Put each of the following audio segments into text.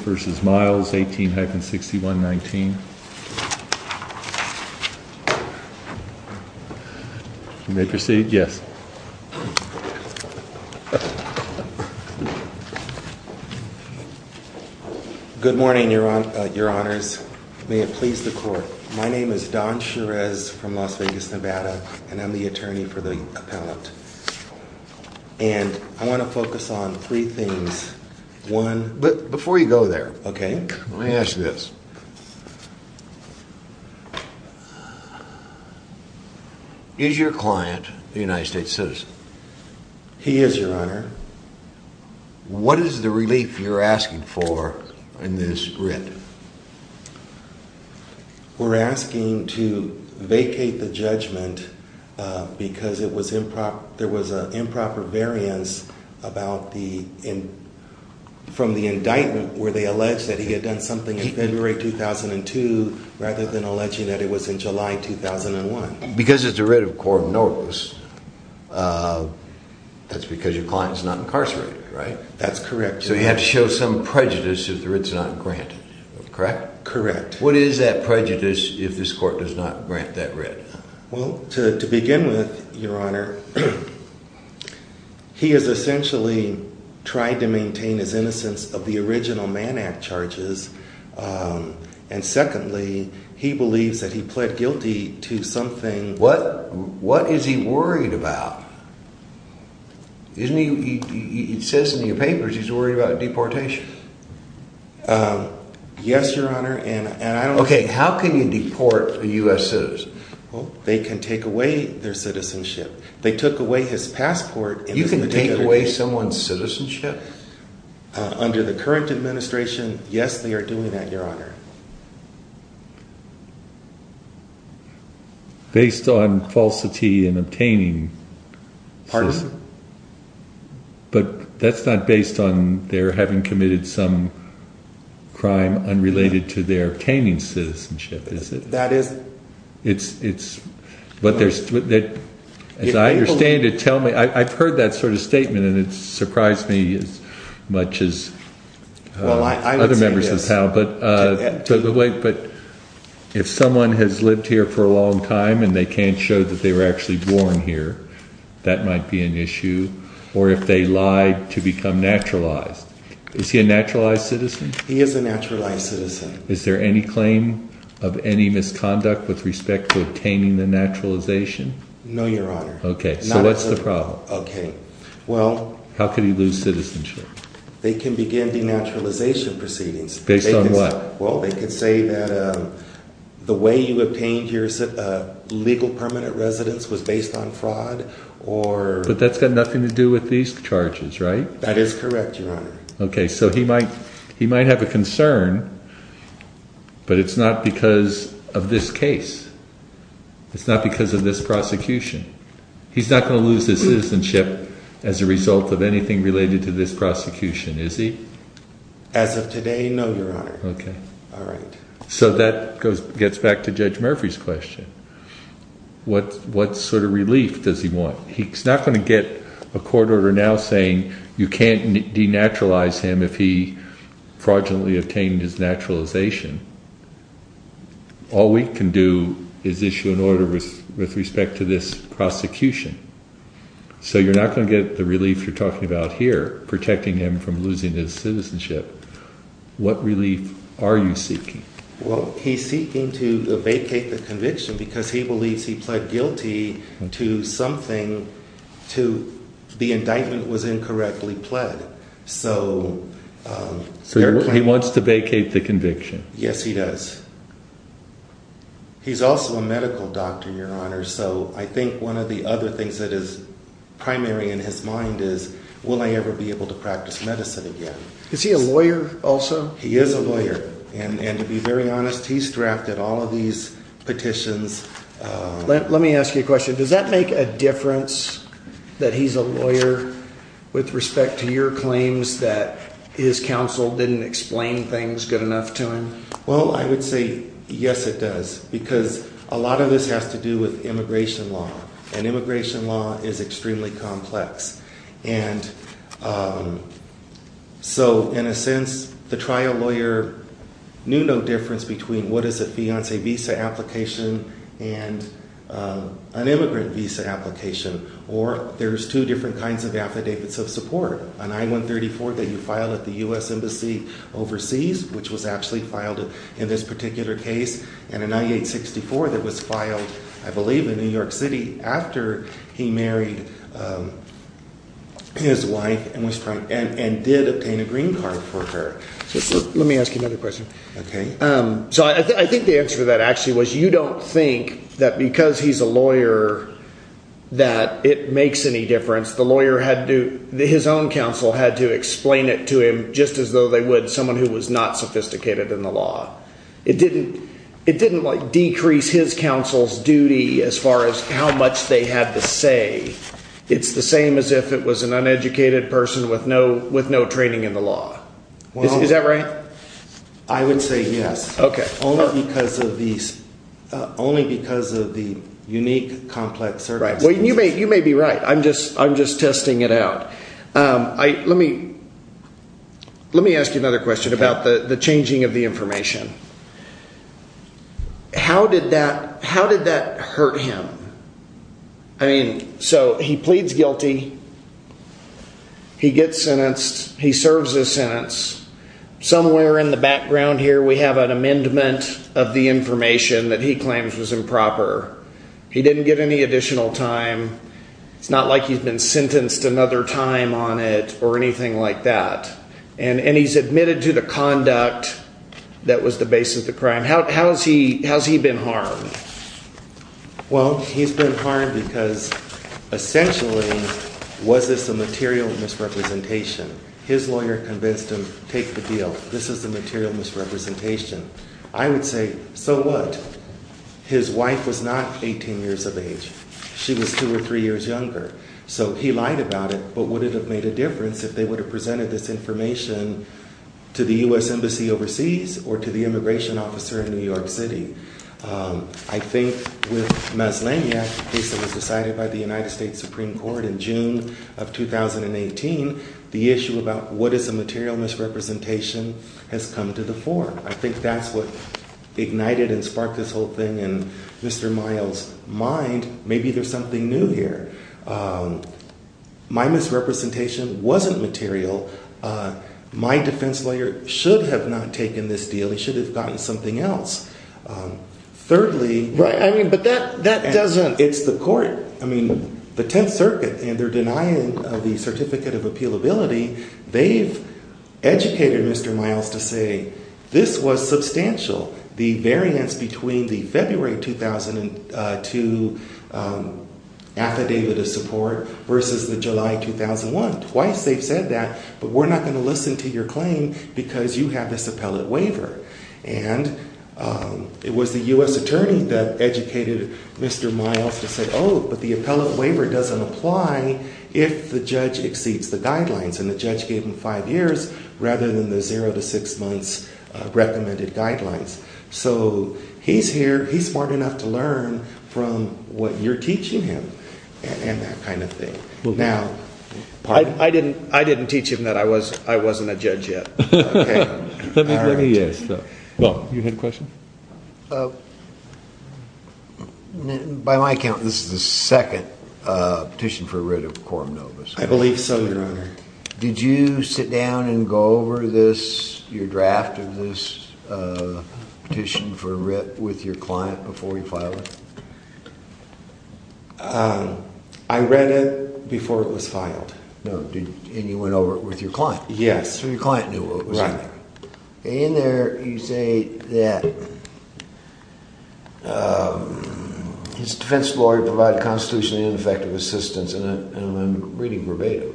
18-6119. You may proceed, yes. Good morning, your honors. May it please the court. My name is Don Cherez from Las Vegas, Nevada, and I'm the attorney for the appellant. And I want to focus on three things. Before you go there, let me ask you this. Is your client a United States citizen? He is, your honor. What is the relief you're asking for in this writ? We're asking to vacate the judgment because there was an improper variance from the indictment where they alleged that he had done something in February 2002, rather than alleging that it was in July 2001. Because it's a writ of court notice, that's because your client's not incarcerated, right? That's correct. So you have to show some prejudice if the writ's not granted, correct? Correct. What is that prejudice if this To begin with, your honor, he has essentially tried to maintain his innocence of the original Mann Act charges. And secondly, he believes that he pled guilty to something. What is he worried about? It says in your papers he's worried about deportation. Yes, your honor. Okay, how can you take away their citizenship? They took away his passport. You can take away someone's citizenship? Under the current administration, yes, they are doing that, your honor. Based on falsity and obtaining. Pardon? But that's not based on their having committed some crime unrelated to their obtaining citizenship, is it? That is. It's, but there's, as I understand it, tell me, I've heard that sort of statement and it surprised me as much as other members of the panel. But if someone has lived here for a long time and they can't show that they were actually born here, that might be an issue. Or if they lied to become naturalized. Is he a naturalized citizen? He is a naturalized citizen. Is there any claim of any misconduct with respect to obtaining the naturalization? No, your honor. Okay, so what's the problem? Okay, well, how could he lose citizenship? They can begin denaturalization proceedings. Based on what? Well, they could say that the way you obtained your legal permanent residence was based on fraud or. But that's got nothing to do with these charges, right? That is correct, your honor. Okay, so he might, he might have a concern, but it's not because of this case. It's not because of this prosecution. He's not going to lose his citizenship as a result of anything related to this prosecution, is he? As of today, no, your honor. Okay. All right. So that goes, gets back to Judge Murphy's question. What, what sort of relief does he want? He's not going to get a court order now saying you can't denaturalize him if he fraudulently obtained his naturalization. All we can do is issue an order with, with respect to this prosecution. So you're not going to get the relief you're talking about here, protecting him from losing his citizenship. What relief are you seeking? Well, he's seeking to vacate the conviction because he believes he pled guilty to something to, the indictment was incorrectly pled. So, so he wants to vacate the conviction? Yes, he does. He's also a medical doctor, your honor. So I think one of the other things that is primary in his mind is, will I ever be able to practice medicine again? Is he a lawyer also? He is a lawyer. And, and to be very honest, he's drafted all of these petitions. Let, let me ask you a question. Does that make a difference that he's a lawyer with respect to your claims that his counsel didn't explain things good enough to him? Well, I would say, yes, it does, because a lot of this has to do with immigration law and immigration law is extremely complex. And so in a sense, the trial lawyer knew no difference between what is a fiance visa application and an immigrant visa application, or there's two different kinds of affidavits of support. An I-134 that you file at the U.S. Embassy overseas, which was actually filed in this particular case, and an I-864 that was filed, I believe, in New York City after he married his wife and was trying, and did obtain a green card for her. Let me ask you another question. Okay. So I think the answer to that actually was, you don't think that because he's a lawyer that it makes any difference? The lawyer had to, his own counsel had to explain it to him just as though they would someone who was not sophisticated in the law. It didn't, it didn't like decrease his counsel's duty as far as how much they had to say. It's the same as if it was an uneducated person with no, with no training in the law. Is that right? I would say yes. Okay. Only because of these, only because of the unique, complex circumstances. Well, you may, you may be right. I'm just, I'm just testing it out. I, let me, let me ask you another question about the changing of the information. How did that, how did that hurt him? I mean, so he pleads guilty. He gets sentenced. He serves his sentence. Somewhere in the background here, we have an amendment of the information that he claims was improper. He didn't get any additional time. It's not like he's been sentenced another time on it, or anything like that. And, and he's admitted to the conduct that was the basis of the crime. How, how has he, has he been harmed? Well, he's been harmed because essentially was this a material misrepresentation? His lawyer convinced him, take the deal. This is the material misrepresentation. I would say, so what? His wife was not 18 years of age. She was two or three years younger. So he lied about it, but would it have made a difference if they would have presented this information to the U.S. Embassy overseas or to the immigration officer in New York City? I think with Maslanya case that was decided by the United States Supreme Court in June of 2018, the issue about what is a material misrepresentation has come to the fore. I think that's what ignited and my misrepresentation wasn't material. My defense lawyer should have not taken this deal. He should have gotten something else. Thirdly, right. I mean, but that, that doesn't, it's the court, I mean the 10th circuit and they're denying the certificate of appealability. They've educated Mr. Miles to say this was substantial. The variance between the February 2002 affidavit of support versus the July 2001. Twice they've said that, but we're not going to listen to your claim because you have this appellate waiver. And it was the U.S. attorney that educated Mr. Miles to say, oh, but the appellate waiver doesn't apply if the judge exceeds the guidelines and the judge gave him five years rather than the zero to six months recommended guidelines. So he's here, he's smart enough to learn from what you're teaching him and that kind of thing. Now, I didn't, I didn't teach him that I was, I wasn't a judge yet. Well, you had a question? By my account, this is the second petition for writ of Coram Novus. I believe so, your honor. Did you sit down and go over this, your draft of this petition for writ with your client before you filed it? I read it before it was filed. No, and you went over it with your client? Yes. So your client knew what was in there. In there you say that his defense lawyer provided constitutionally ineffective assistance, and I'm reading verbatim,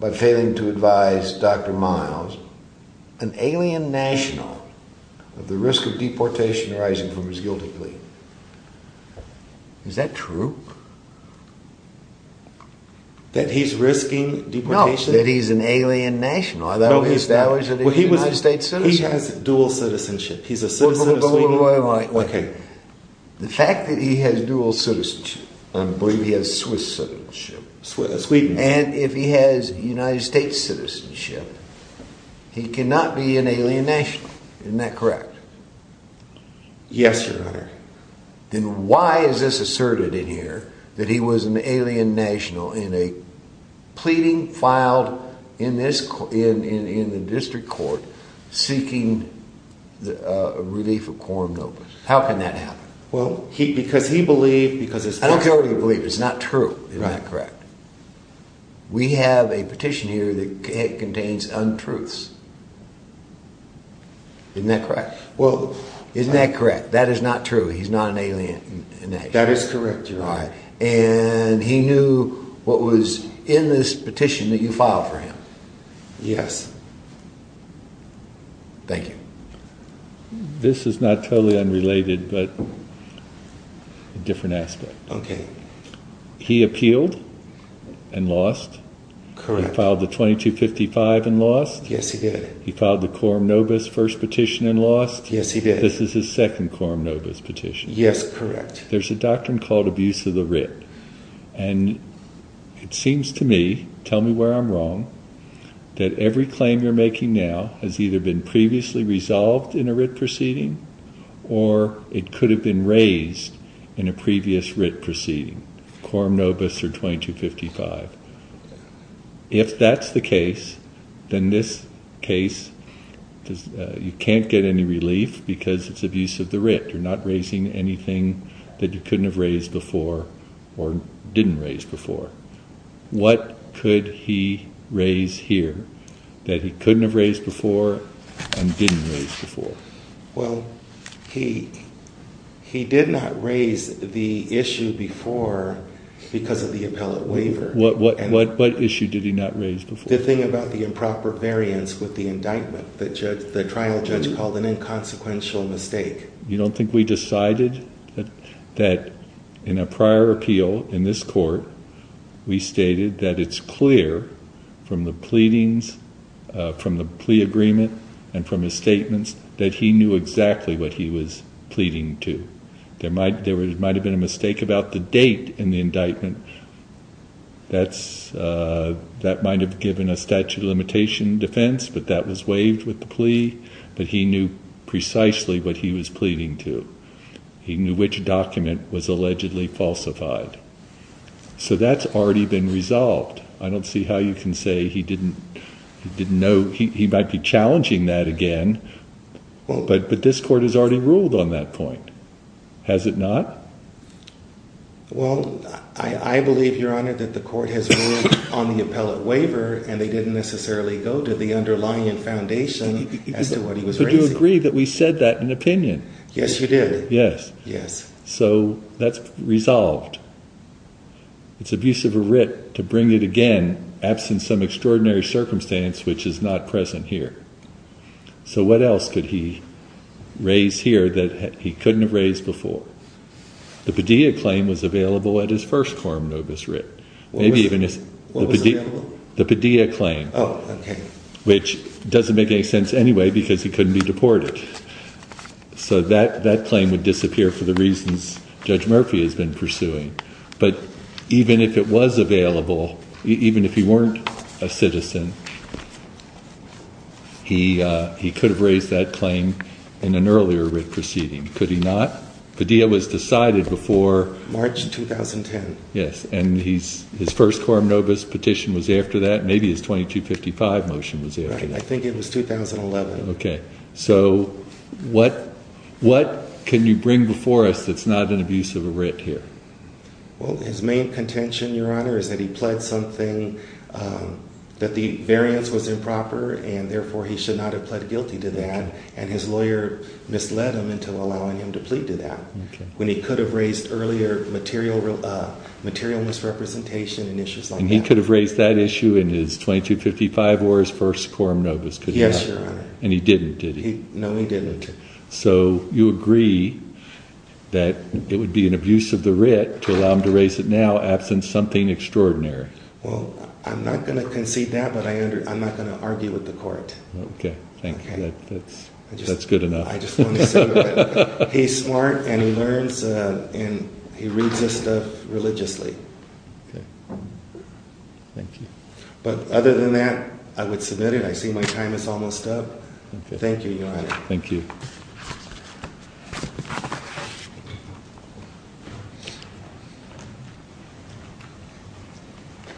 by failing to advise Dr. Miles, an alien national of the risk of deportation arising from his guilty plea. Is that true? That he's risking deportation? No, that he's an alien national. I thought we established that he was a United States citizen. He has dual citizenship. He's a citizen of Sweden. But what do I like? Okay. The fact that he has Swiss citizenship. Sweden. And if he has United States citizenship, he cannot be an alien national. Isn't that correct? Yes, your honor. Then why is this asserted in here, that he was an alien national in a pleading filed in the district court, seeking the relief of Coram Novus? How can that be? That is not true. Is that correct? We have a petition here that contains untruths. Isn't that correct? Well, isn't that correct? That is not true. He's not an alien national. That is correct, your honor. And he knew what was in this petition that you filed for him. Yes. Thank you. This is not totally unrelated, but a different aspect. Okay. He appealed and lost. Correct. He filed the 2255 and lost. Yes, he did. He filed the Coram Novus first petition and lost. Yes, he did. This is his second Coram Novus petition. Yes, correct. There's a doctrine called abuse of the writ. And it seems to me, tell me where I'm wrong, that every claim you're making now has either been previously resolved in a writ proceeding, or it could have been raised in a previous writ proceeding. Coram Novus or 2255. If that's the case, then this case, you can't get any relief because it's abuse of the writ. You're not raising anything that you couldn't have raised before or didn't raise before. What could he raise here that he couldn't have raised before and didn't raise before? Well, he did not raise the issue before because of the appellate waiver. What issue did he not raise before? The thing about the improper variance with the indictment that the trial judge called an inconsequential mistake. You don't think we decided that in a prior appeal in this court, we stated that it's clear from the pleadings, from the plea agreement, and from his statements that he knew exactly what he was pleading to. There might have been a mistake about the date in the indictment. That might have given a statute of limitation defense, but that was waived with the plea, but he knew precisely what he was pleading to. He knew which document was allegedly falsified. So that's already been resolved. I don't see how you can say he didn't know. He might be challenging that again, but this court has already ruled on that point. Has it not? Well, I believe, your honor, that the court has ruled on the appellate waiver and they didn't necessarily go to the underlying foundation as to what he was raising. But you agree that we That's resolved. It's abusive of Ritt to bring it again, absent some extraordinary circumstance which is not present here. So what else could he raise here that he couldn't have raised before? The Padilla claim was available at his first quorum notice, Ritt. What was available? The Padilla claim, which doesn't make any sense anyway because he couldn't be deported. So that claim would have been available. That's what Judge Murphy has been pursuing. But even if it was available, even if he weren't a citizen, he could have raised that claim in an earlier Ritt proceeding. Could he not? Padilla was decided before March 2010. Yes. And his first quorum notice petition was after that. Maybe his 2255 motion was after that. I think it was 2011. Okay. So what can you bring before us that's not an abuse of a Ritt here? Well, his main contention, your honor, is that he pled something that the variance was improper and therefore he should not have pled guilty to that and his lawyer misled him into allowing him to plead to that when he could have raised earlier material misrepresentation and issues like that. And he could have raised that issue in his 2255 or his first quorum notice. Yes, your honor. And he didn't, did he? No, he didn't. So you agree that it would be an abuse of the Ritt to allow him to raise it now, absent something extraordinary. Well, I'm not going to concede that, but I'm not going to argue with the court. Okay. Thank you. That's good enough. He's smart and he learns and he I would submit it. I see my time is almost up. Thank you, your honor. Thank you.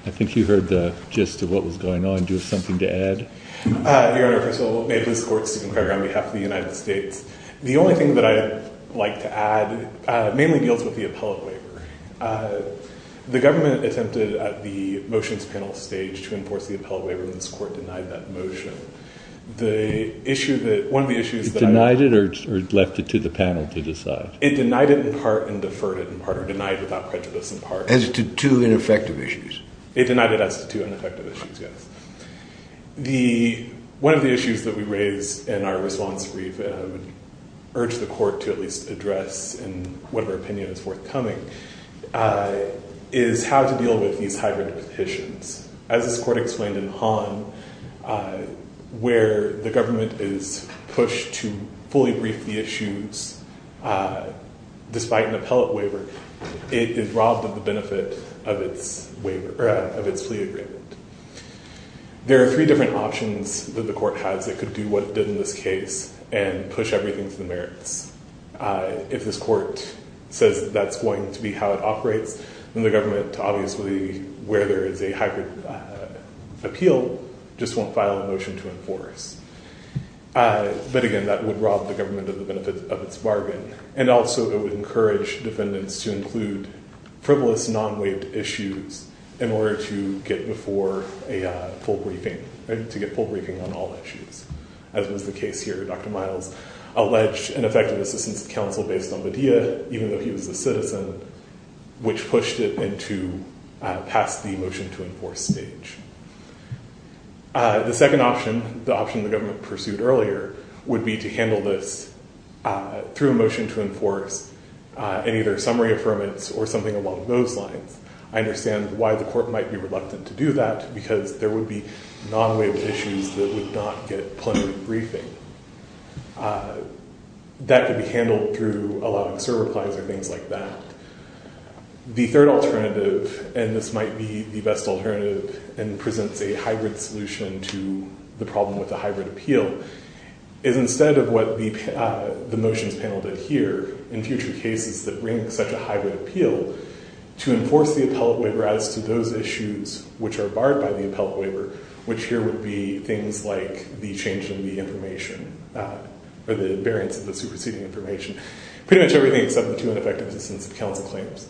I think you heard the gist of what was going on. Do you have something to add? Your honor, first of all, may it please the court to concur on behalf of the United States. The only thing that I'd like to add mainly deals with the appellate waiver. Uh, the government attempted at the motions panel stage to enforce the appellate waiver. And this court denied that motion. The issue that one of the issues that I Denied it or left it to the panel to decide? It denied it in part and deferred it in part or denied without prejudice in part. As to two ineffective issues. It denied it as to two ineffective issues. Yes. The, one of the issues that we raised in our response brief, I would urge the court to at least address in whatever opinion is coming, uh, is how to deal with these hybrid petitions. As this court explained in Han, uh, where the government is pushed to fully brief the issues, uh, despite an appellate waiver, it is robbed of the benefit of its waiver of its plea agreement. There are three different options that the court has. It could do what it did in this case and push everything to the merits. Uh, if this court says that that's going to be how it operates in the government, obviously where there is a hybrid appeal, just won't file a motion to enforce. Uh, but again, that would rob the government of the benefits of its bargain. And also it would encourage defendants to include frivolous non-waived issues in order to get before a full briefing, right? To get full briefing on all issues. As was the case here, Dr. Miles alleged an effective assistance council based on the deal, even though he was a citizen, which pushed it into, uh, past the motion to enforce stage. Uh, the second option, the option the government pursued earlier would be to handle this, uh, through a motion to enforce, uh, any of their summary of permits or something along those lines. I understand why the court might be reluctant to do that because there would be non-waived issues that would not get plenary briefing, uh, that could be handled through a lot of server plans or things like that. The third alternative, and this might be the best alternative and presents a hybrid solution to the problem with the hybrid appeal, is instead of what the, uh, the motions panel did here in future cases that bring such a hybrid appeal to enforce the appellate waiver as to those issues which are barred by the appellate waiver, which here would be things like the change in the information, uh, or the variance of the superseding information, pretty much everything except the two ineffective assistance of council claims.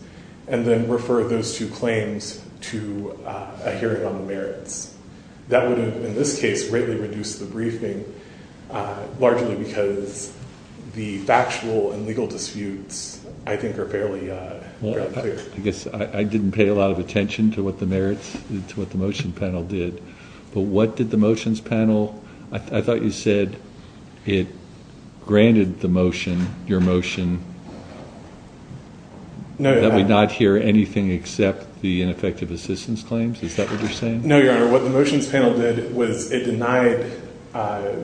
And then refer those two claims to, uh, a hearing on the merits. That would have, in this case, greatly reduced the briefing, uh, largely because the actual and legal disputes, I think, are fairly, uh, well, I guess I didn't pay a lot of attention to what the merits, to what the motion panel did, but what did the motions panel, I thought you said it granted the motion, your motion, that we not hear anything except the ineffective assistance claims. Is that what you're saying? No, your honor. What the motions panel did was it denied, uh,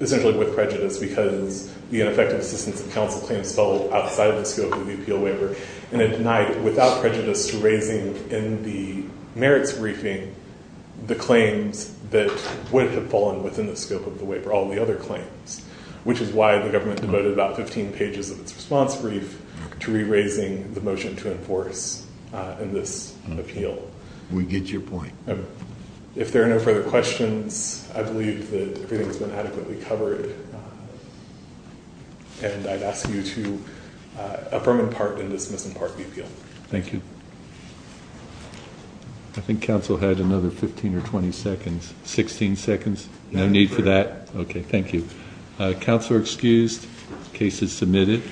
essentially with prejudice because the ineffective assistance of council claims fell outside the scope of the appeal waiver, and it denied without prejudice to raising in the merits briefing the claims that would have fallen within the scope of the waiver, all the other claims, which is why the government devoted about 15 pages of its response brief to re-raising the motion to enforce, uh, in this appeal. We get your point. If there are no further questions, I believe that everything has been adequately covered, and I'd ask you to, uh, affirm and pardon and dismiss and pardon the appeal. Thank you. I think council had another 15 or 20 seconds, 16 seconds. No need for that. Okay, thank you. Council are excused. Case is submitted.